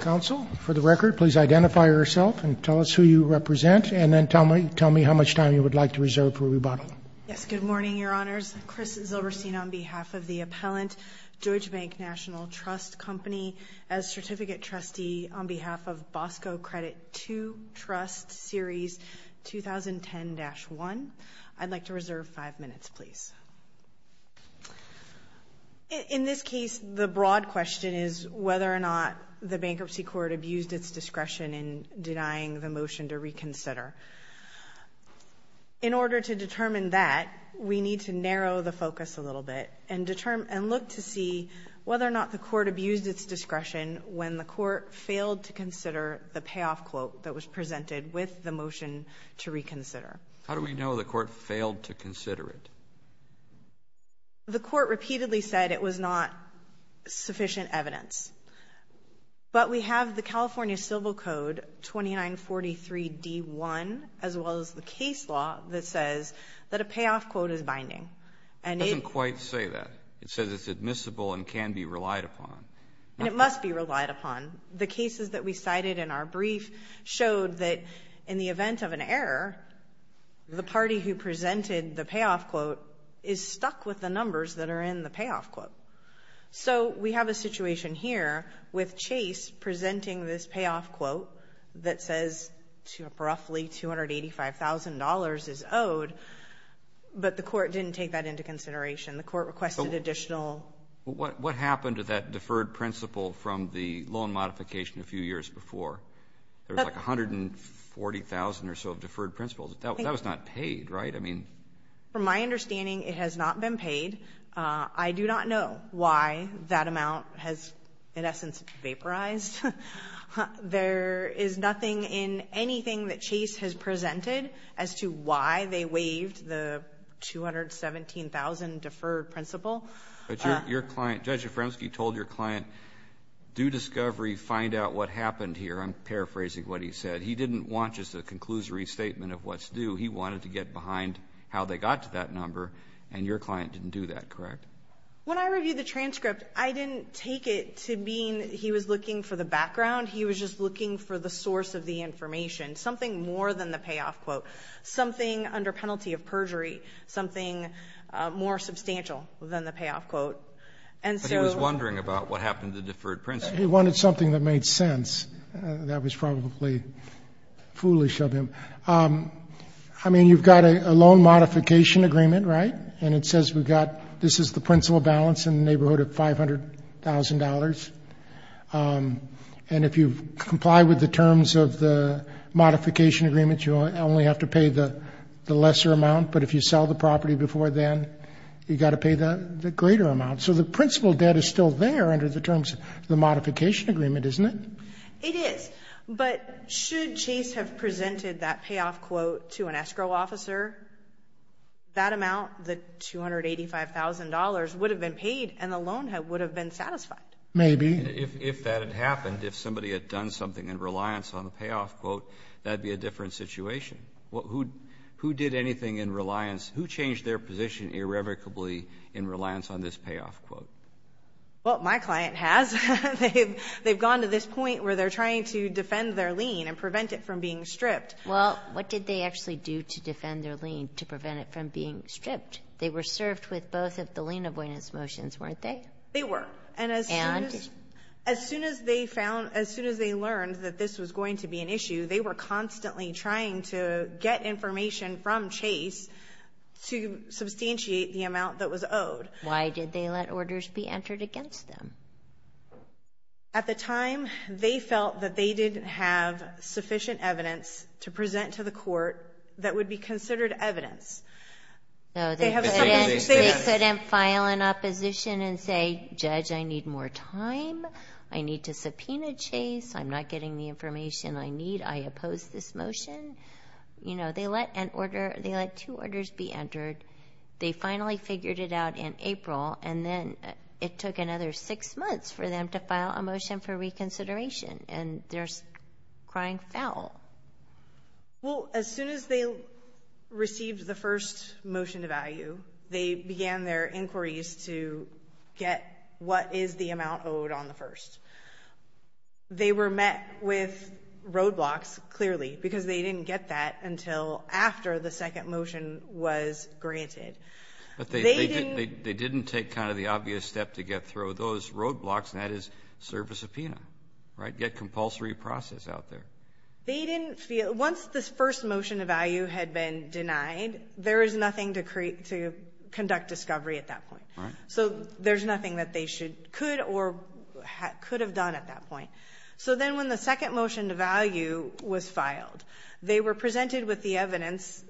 Counsel, for the record, please identify yourself and tell us who you represent, and then tell me how much time you would like to reserve for rebuttal. Yes, good morning, Your Honors. Chris Zilberstein on behalf of the appellant, George Bank National Trust Company, as certificate trustee on behalf of Bosco Credit II Trust Series 2010-1. I'd like to reserve five minutes, please. In this case, the broad question is whether or not the bankruptcy court abused its discretion in denying the motion to reconsider. In order to determine that, we need to narrow the focus a little bit and look to see whether or not the court abused its discretion when the court failed to consider the payoff quote that was presented with the motion to reconsider. How do we know the court failed to consider it? The court repeatedly said it was not sufficient evidence. But we have the California Civil Code 2943-D1, as well as the case law, that says that a payoff quote is binding. And it— It doesn't quite say that. It says it's admissible and can be relied upon. And it must be relied upon. The cases that we cited in our brief showed that in the event of an error, the party who presented the payoff quote is stuck with the numbers that are in the payoff quote. So we have a situation here with Chase presenting this payoff quote that says roughly $285,000 is owed, but the court didn't take that into consideration. The court requested additional— The modification a few years before, there was like $140,000 or so of deferred principles. That was not paid, right? I mean— From my understanding, it has not been paid. I do not know why that amount has, in essence, vaporized. There is nothing in anything that Chase has presented as to why they waived the $217,000 deferred principle. But your client, Judge Jafremski, told your client, do discovery, find out what happened here. I'm paraphrasing what he said. He didn't want just a conclusory statement of what's due. He wanted to get behind how they got to that number. And your client didn't do that, correct? When I reviewed the transcript, I didn't take it to mean he was looking for the background. He was just looking for the source of the information, something more than the payoff quote. So something under penalty of perjury, something more substantial than the payoff quote. And so— But he was wondering about what happened to deferred principles. He wanted something that made sense. That was probably foolish of him. I mean, you've got a loan modification agreement, right? And it says we've got — this is the principle balance in the neighborhood of $500,000. And if you comply with the terms of the modification agreement, you only have to pay the lesser amount. But if you sell the property before then, you've got to pay the greater amount. So the principle debt is still there under the terms of the modification agreement, isn't it? It is. But should Chase have presented that payoff quote to an escrow officer, that amount, the $285,000, would have been paid and the loan would have been satisfied? Maybe. If that had happened, if somebody had done something in reliance on the payoff quote, that would be a different situation. Who did anything in reliance? Who changed their position irrevocably in reliance on this payoff quote? Well, my client has. They've gone to this point where they're trying to defend their lien and prevent it from being stripped. Well, what did they actually do to defend their lien to prevent it from being stripped? They were served with both of the lien avoidance motions, weren't they? They were. And as soon as they found, as soon as they learned that this was going to be an issue, they were constantly trying to get information from Chase to substantiate the amount that was owed. Why did they let orders be entered against them? At the time, they felt that they didn't have sufficient evidence to present to the court that would be considered evidence. So they couldn't file an opposition and say, judge, I need more time. I need to subpoena Chase. I'm not getting the information I need. I oppose this motion. You know, they let an order, they let two orders be entered. They finally figured it out in April. And then it took another six months for them to file a motion for reconsideration. And they're crying foul. Well, as soon as they received the first motion to value, they began their inquiries to get what is the amount owed on the first. They were met with roadblocks, clearly, because they didn't get that until after the second motion was granted. But they didn't take kind of the obvious step to get through those roadblocks, and that is serve a subpoena, right? Get compulsory process out there. They didn't feel once this first motion of value had been denied, there is nothing to create to conduct discovery at that point. So there's nothing that they should could or could have done at that point. So then when the second motion to value was filed, they were presented with the evidence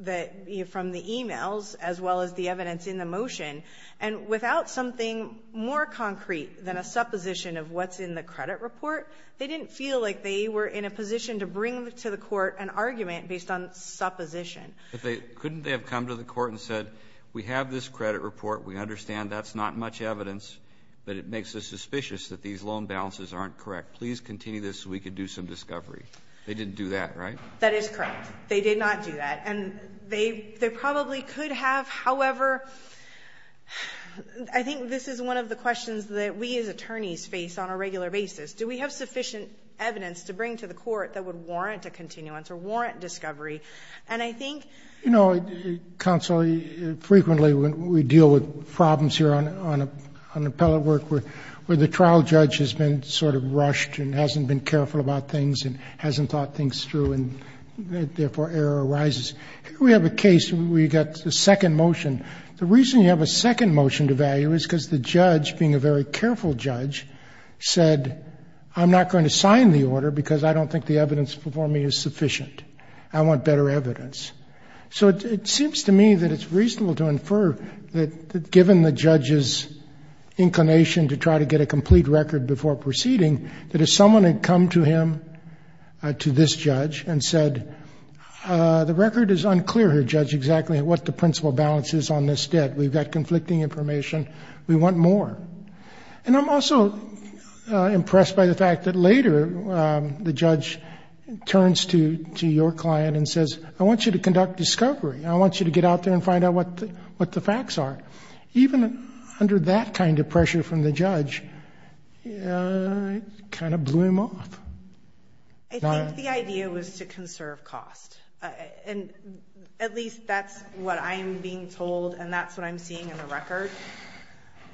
that from the emails as well as the evidence in the motion. And without something more concrete than a supposition of what's in the credit report, they didn't feel like they were in a position to bring to the court an argument based on supposition. But couldn't they have come to the court and said, we have this credit report. We understand that's not much evidence, but it makes us suspicious that these loan balances aren't correct. Please continue this so we could do some discovery. They didn't do that, right? That is correct. They did not do that. And they probably could have. However, I think this is one of the questions that we as attorneys face on a regular basis. Do we have sufficient evidence to bring to the court that would warrant a continuance or warrant discovery? And I think- You know, counsel, frequently when we deal with problems here on appellate work where the trial judge has been sort of rushed and hasn't been careful about things and hasn't thought things through and therefore error arises. We have a case where we got the second motion. The reason you have a second motion to value is because the judge, being a very careful judge, said, I'm not going to sign the order because I don't think the evidence before me is sufficient. I want better evidence. So it seems to me that it's reasonable to infer that given the judge's inclination to try to get a complete record before proceeding, that if someone had come to him, to this judge, and said, the record is unclear here, Judge, exactly what the principal balance is on this debt. We've got conflicting information. We want more. And I'm also impressed by the fact that later the judge turns to your client and says, I want you to conduct discovery. I want you to get out there and find out what the facts are. Even under that kind of pressure from the judge, it kind of blew him off. I think the idea was to conserve cost. And at least that's what I'm being told and that's what I'm seeing in the record.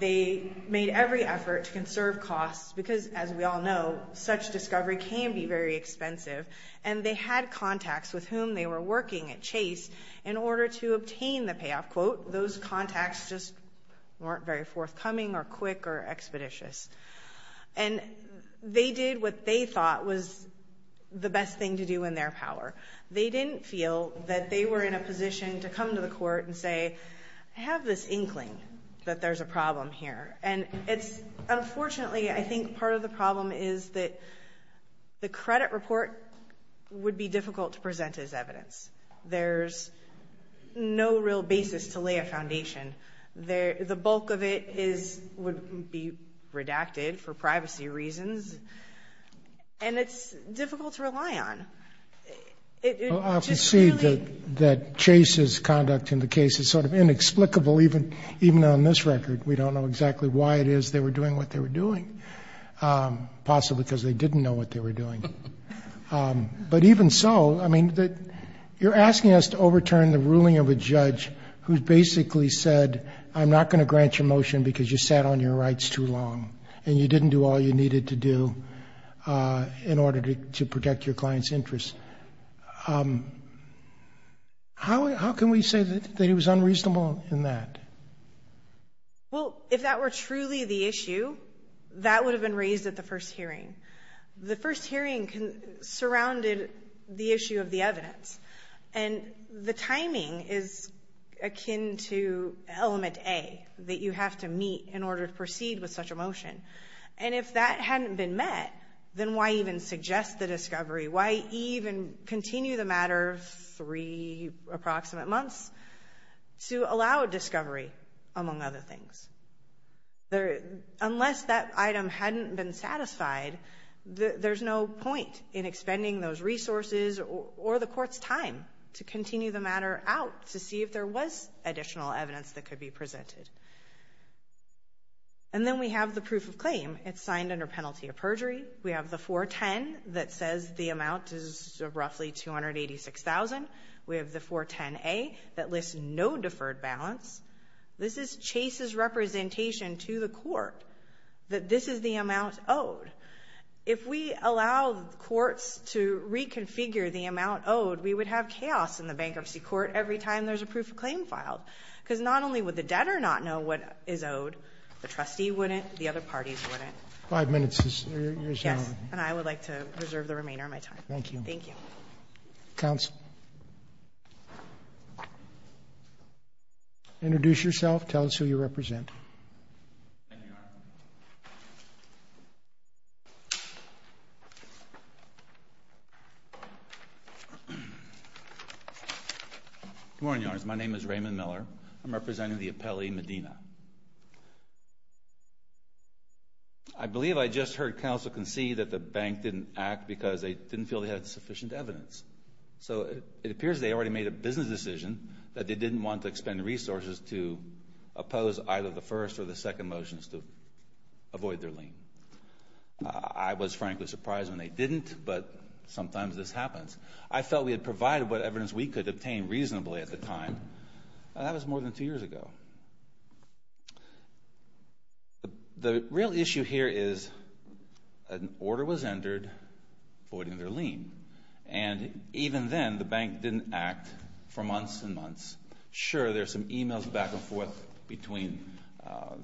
They made every effort to conserve costs because, as we all know, such discovery can be very expensive. And they had contacts with whom they were working at Chase in order to obtain the payoff quote. Those contacts just weren't very forthcoming or quick or expeditious. And they did what they thought was the best thing to do in their power. They didn't feel that they were in a position to come to the court and say, I have this that there's a problem here. And unfortunately, I think part of the problem is that the credit report would be difficult to present as evidence. There's no real basis to lay a foundation. The bulk of it would be redacted for privacy reasons. And it's difficult to rely on. I can see that Chase's conduct in the case is sort of inexplicable, even on this record. We don't know exactly why it is they were doing what they were doing, possibly because they didn't know what they were doing. But even so, I mean, you're asking us to overturn the ruling of a judge who basically said, I'm not going to grant you a motion because you sat on your rights too long and you didn't do all you needed to do in order to protect your client's interests. How can we say that it was unreasonable in that? Well, if that were truly the issue, that would have been raised at the first hearing. The first hearing surrounded the issue of the evidence. And the timing is akin to element A, that you have to meet in order to proceed with such a motion. And if that hadn't been met, then why even suggest the discovery? Why even continue the matter three approximate months to allow a discovery, among other things? Unless that item hadn't been satisfied, there's no point in expending those resources or the court's time to continue the matter out to see if there was additional evidence that could be presented. And then we have the proof of claim. It's signed under penalty of perjury. We have the 410 that says the amount is roughly $286,000. We have the 410A that lists no deferred balance. This is Chase's representation to the court that this is the amount owed. If we allow courts to reconfigure the amount owed, we would have chaos in the bankruptcy court every time there's a proof of claim filed. Because not only would the debtor not know what is owed, the trustee wouldn't. The other parties wouldn't. Five minutes is your time. Yes. And I would like to reserve the remainder of my time. Thank you. Thank you. Counsel. Introduce yourself. Tell us who you represent. Good morning, Your Honor. My name is Raymond Miller. I'm representing the appellee Medina. I believe I just heard counsel concede that the bank didn't act because they didn't feel they had sufficient evidence. So it appears they already made a business decision that they didn't want to expend resources to oppose either the first or the second motions to avoid their lien. I was frankly surprised when they didn't, but sometimes this happens. I felt we had provided what evidence we could obtain reasonably at the time. That was more than two years ago. The real issue here is an order was entered avoiding their lien. And even then, the bank didn't act for months and months. Sure, there's some emails back and forth between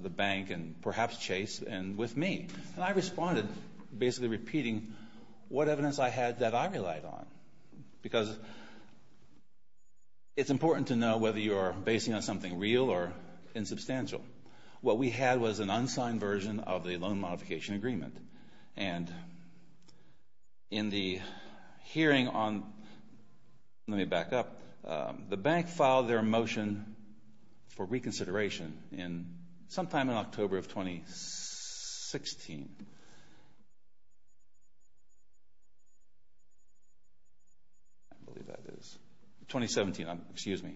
the bank and perhaps Chase and with me. And I responded basically repeating what evidence I had that I relied on. Because it's important to know whether you are basing on something real or insubstantial. What we had was an unsigned version of the loan modification agreement. And in the hearing on, let me back up, the bank filed their motion for reconsideration sometime in October of 2016, I believe that is, 2017, excuse me.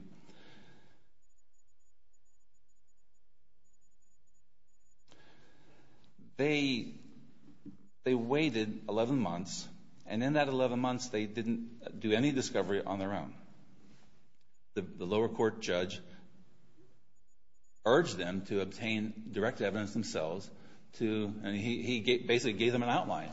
They waited 11 months and in that 11 months they didn't do any discovery on their own. The lower court judge urged them to obtain direct evidence themselves to, and he basically gave them an outline.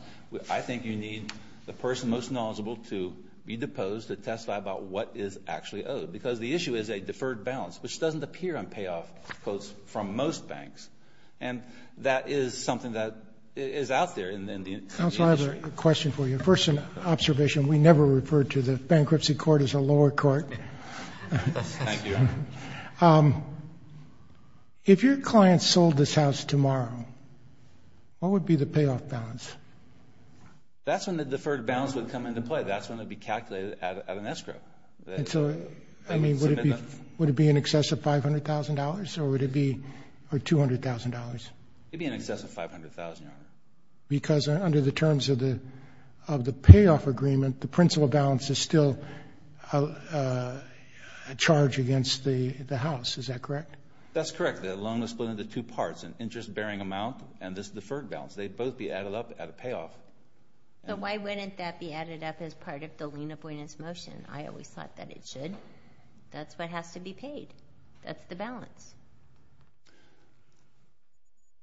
I think you need the person most knowledgeable to be deposed to testify about what is actually owed. Because the issue is a deferred balance, which doesn't appear on payoff quotes from most banks. And that is something that is out there in the industry. Counsel, I have a question for you. Observation, we never refer to the bankruptcy court as a lower court. If your client sold this house tomorrow, what would be the payoff balance? That's when the deferred balance would come into play. That's when it would be calculated at an escrow. Would it be in excess of $500,000 or would it be $200,000? It would be in excess of $500,000, Your Honor. Because under the terms of the payoff agreement, the principal balance is still charged against the house. Is that correct? That's correct. The loan is split into two parts, an interest bearing amount and this deferred balance. They'd both be added up at a payoff. So why wouldn't that be added up as part of the lien avoidance motion? I always thought that it should. That's what has to be paid. That's the balance.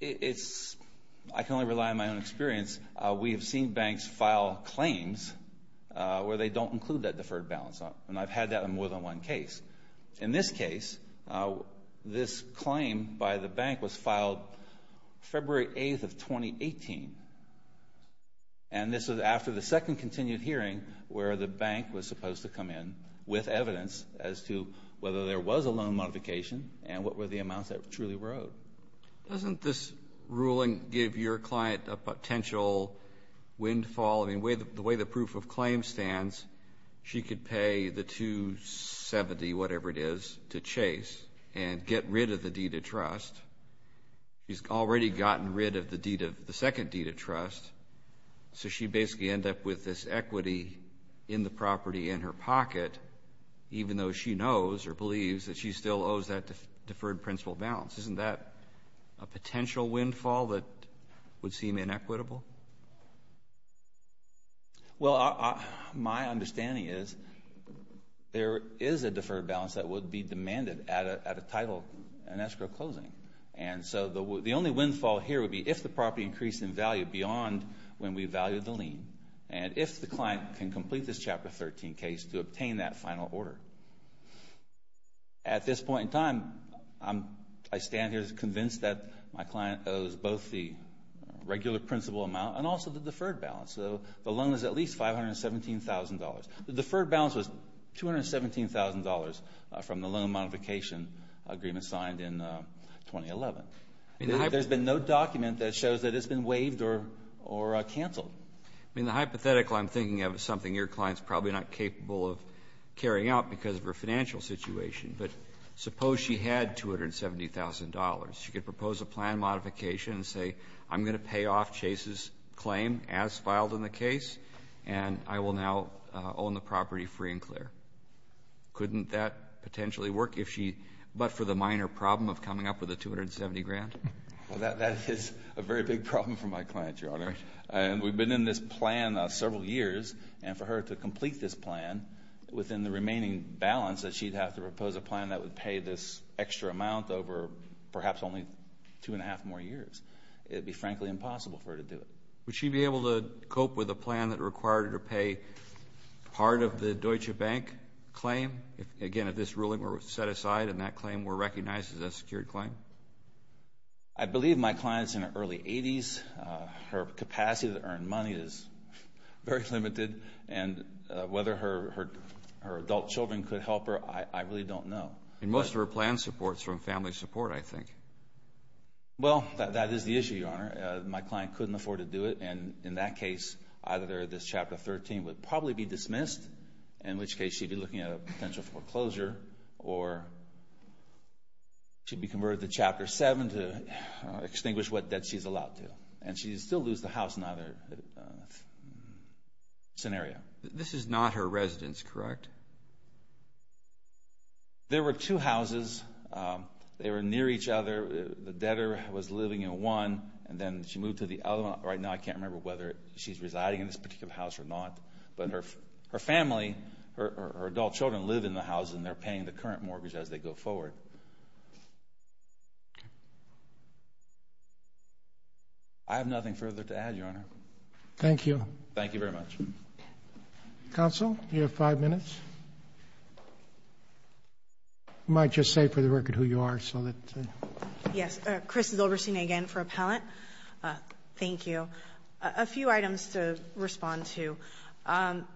I can only rely on my own experience. We have seen banks file claims where they don't include that deferred balance. And I've had that in more than one case. In this case, this claim by the bank was filed February 8th of 2018. And this is after the second continued hearing where the bank was supposed to come in with evidence as to whether there was a loan modification and what was the reason for it. The amounts that truly were owed. Doesn't this ruling give your client a potential windfall? I mean, the way the proof of claim stands, she could pay the $270, whatever it is, to chase and get rid of the deed of trust. She's already gotten rid of the second deed of trust. So she'd basically end up with this equity in the property in her pocket, even though she knows or believes that she still owes that deferred principal balance. Isn't that a potential windfall that would seem inequitable? Well, my understanding is there is a deferred balance that would be demanded at a title and escrow closing. And so the only windfall here would be if the property increased in value beyond when we valued the lien. And if the client can complete this Chapter 13 case to obtain that final order. At this point in time, I stand here convinced that my client owes both the regular principal amount and also the deferred balance. So the loan is at least $517,000. The deferred balance was $217,000 from the loan modification agreement signed in 2011. There's been no document that shows that it's been waived or canceled. I mean, the hypothetical I'm thinking of is something your client's probably not capable of carrying out because of her financial situation. But suppose she had $270,000. She could propose a plan modification and say, I'm going to pay off Chase's claim as filed in the case, and I will now own the property free and clear. Couldn't that potentially work if she, but for the minor problem of coming up with a $270,000? Well, that is a very big problem for my client, Your Honor. And we've been in this plan several years. And for her to complete this plan within the remaining balance that she'd have to propose a plan that would pay this extra amount over perhaps only two and a half more years, it would be frankly impossible for her to do it. Would she be able to cope with a plan that required her to pay part of the Deutsche Bank claim? Again, if this ruling were set aside and that claim were recognized as a secured claim? I believe my client's in her early 80s. Her capacity to earn money is very limited. And whether her adult children could help her, I really don't know. Most of her plan supports from family support, I think. Well, that is the issue, Your Honor. My client couldn't afford to do it. And in that case, either this Chapter 13 would probably be dismissed, in which case she'd be looking at a potential foreclosure, or she'd be converted to Chapter 7 to extinguish what debt she's allowed to. She'd still lose the house in either scenario. This is not her residence, correct? There were two houses. They were near each other. The debtor was living in one, and then she moved to the other one. Right now, I can't remember whether she's residing in this particular house or not. But her family, her adult children live in the house, and they're paying the current mortgage as they go forward. I have nothing further to add, Your Honor. Thank you. Thank you very much. Counsel, you have five minutes. You might just say for the record who you are, so that... Yes. Chris Zilberstein again for Appellant. Thank you. A few items to respond to.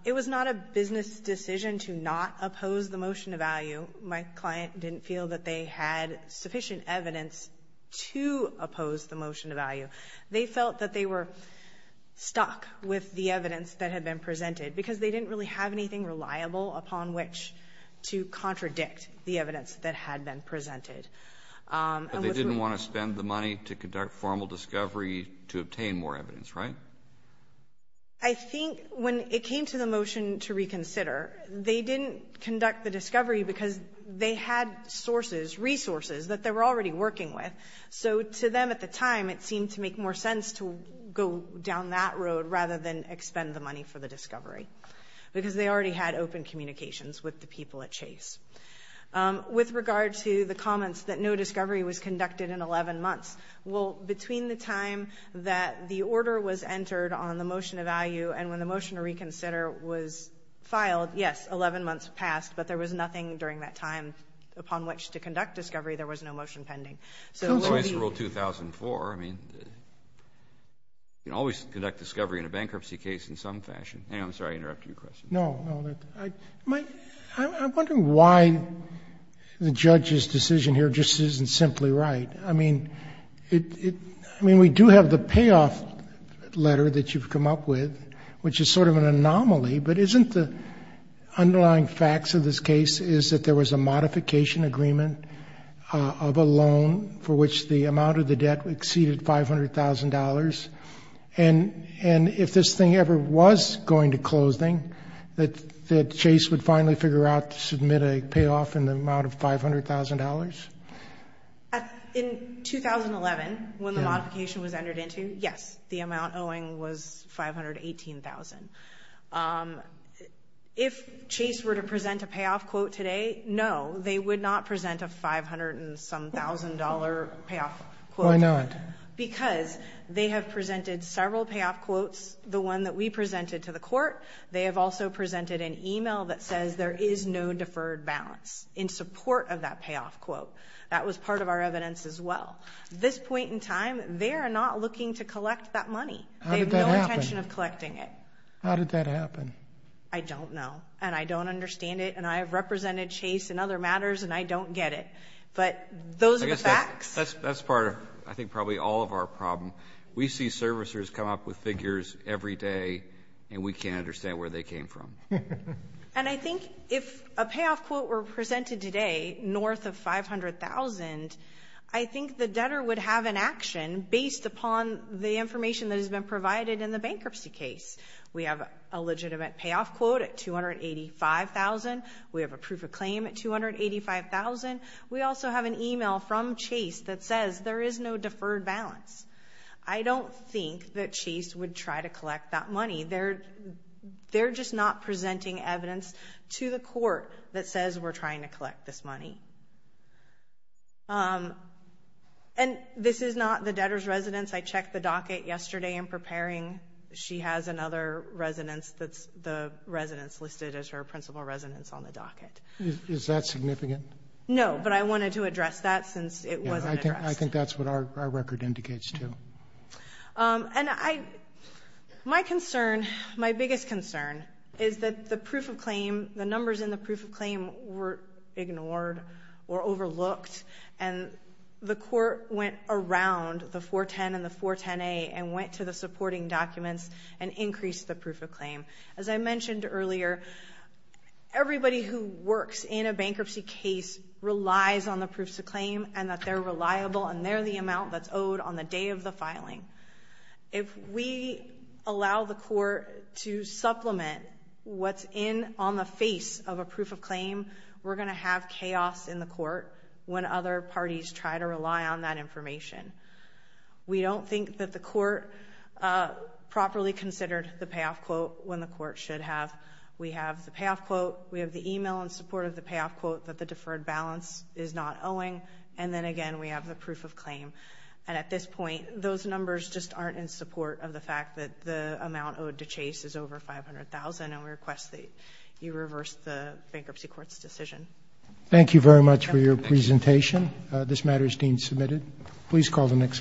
It was not a business decision to not oppose the motion of value. My client didn't feel that they had sufficient evidence to oppose the motion of value. They felt that they were stuck with the evidence that had been presented, because they didn't really have anything reliable upon which to contradict the evidence that had been presented. They didn't want to spend the money to conduct formal discovery to obtain more evidence, right? I think when it came to the motion to reconsider, they didn't conduct the discovery because they had sources, resources that they were already working with. So to them at the time, it seemed to make more sense to go down that road rather than expend the money for the discovery, because they already had open communications with the people at Chase. With regard to the comments that no discovery was conducted in 11 months, well, between the time that the order was entered on the motion of value and when the motion to reconsider was filed, yes, 11 months passed. But there was nothing during that time upon which to conduct discovery. There was no motion pending. So it will be— So it's Rule 2004. I mean, you can always conduct discovery in a bankruptcy case in some fashion. Anyway, I'm sorry. I interrupted your question. No, no. I'm wondering why the judge's decision here just isn't simply right. I mean, we do have the payoff letter that you've come up with, which is sort of an anomaly, but isn't the underlying facts of this case is that there was a modification agreement of a loan for which the amount of the debt exceeded $500,000, and if this thing ever was going to closing, that Chase would finally figure out to submit a payoff in the amount of $500,000? In 2011, when the modification was entered into, yes, the amount owing was $518,000. If Chase were to present a payoff quote today, no, they would not present a $500 and some $1,000 payoff quote. Why not? Because they have presented several payoff quotes, the one that we presented to the court. They have also presented an email that says there is no deferred balance in support of that payoff quote. That was part of our evidence as well. This point in time, they are not looking to collect that money. How did that happen? They have no intention of collecting it. How did that happen? I don't know, and I don't understand it, and I have represented Chase in other matters, and I don't get it. But those are the facts. That's part of, I think, probably all of our problem. We see servicers come up with figures every day, and we can't understand where they came from. And I think if a payoff quote were presented today north of $500,000, I think the debtor would have an action based upon the information that has been provided in the bankruptcy case. We have a legitimate payoff quote at $285,000. We have a proof of claim at $285,000. We also have an email from Chase that says there is no deferred balance. I don't think that Chase would try to collect that money. They're just not presenting evidence to the court that says we're trying to collect this money. And this is not the debtor's residence. I checked the docket yesterday in preparing. She has another residence that's the residence listed as her principal residence on the docket. Is that significant? No, but I wanted to address that since it wasn't addressed. I think that's what our record indicates too. And my concern, my biggest concern, is that the proof of claim, the numbers in the proof of claim were ignored or overlooked. And the court went around the 410 and the 410A and went to the supporting documents and increased the proof of claim. As I mentioned earlier, everybody who works in a bankruptcy case relies on the proofs of claim and that they're reliable and they're the amount that's owed on the day of the filing. If we allow the court to supplement what's in on the face of a proof of claim, we're going to have chaos in the court when other parties try to rely on that information. We don't think that the court properly considered the payoff quote when the court should have. We have the payoff quote. We have the email in support of the payoff quote that the deferred balance is not owing. And then again, we have the proof of claim. And at this point, those numbers just aren't in support of the fact that the amount owed to Chase is over $500,000 and we request that you reverse the bankruptcy court's decision. Thank you very much for your presentation. This matter is being submitted. Please call the next case.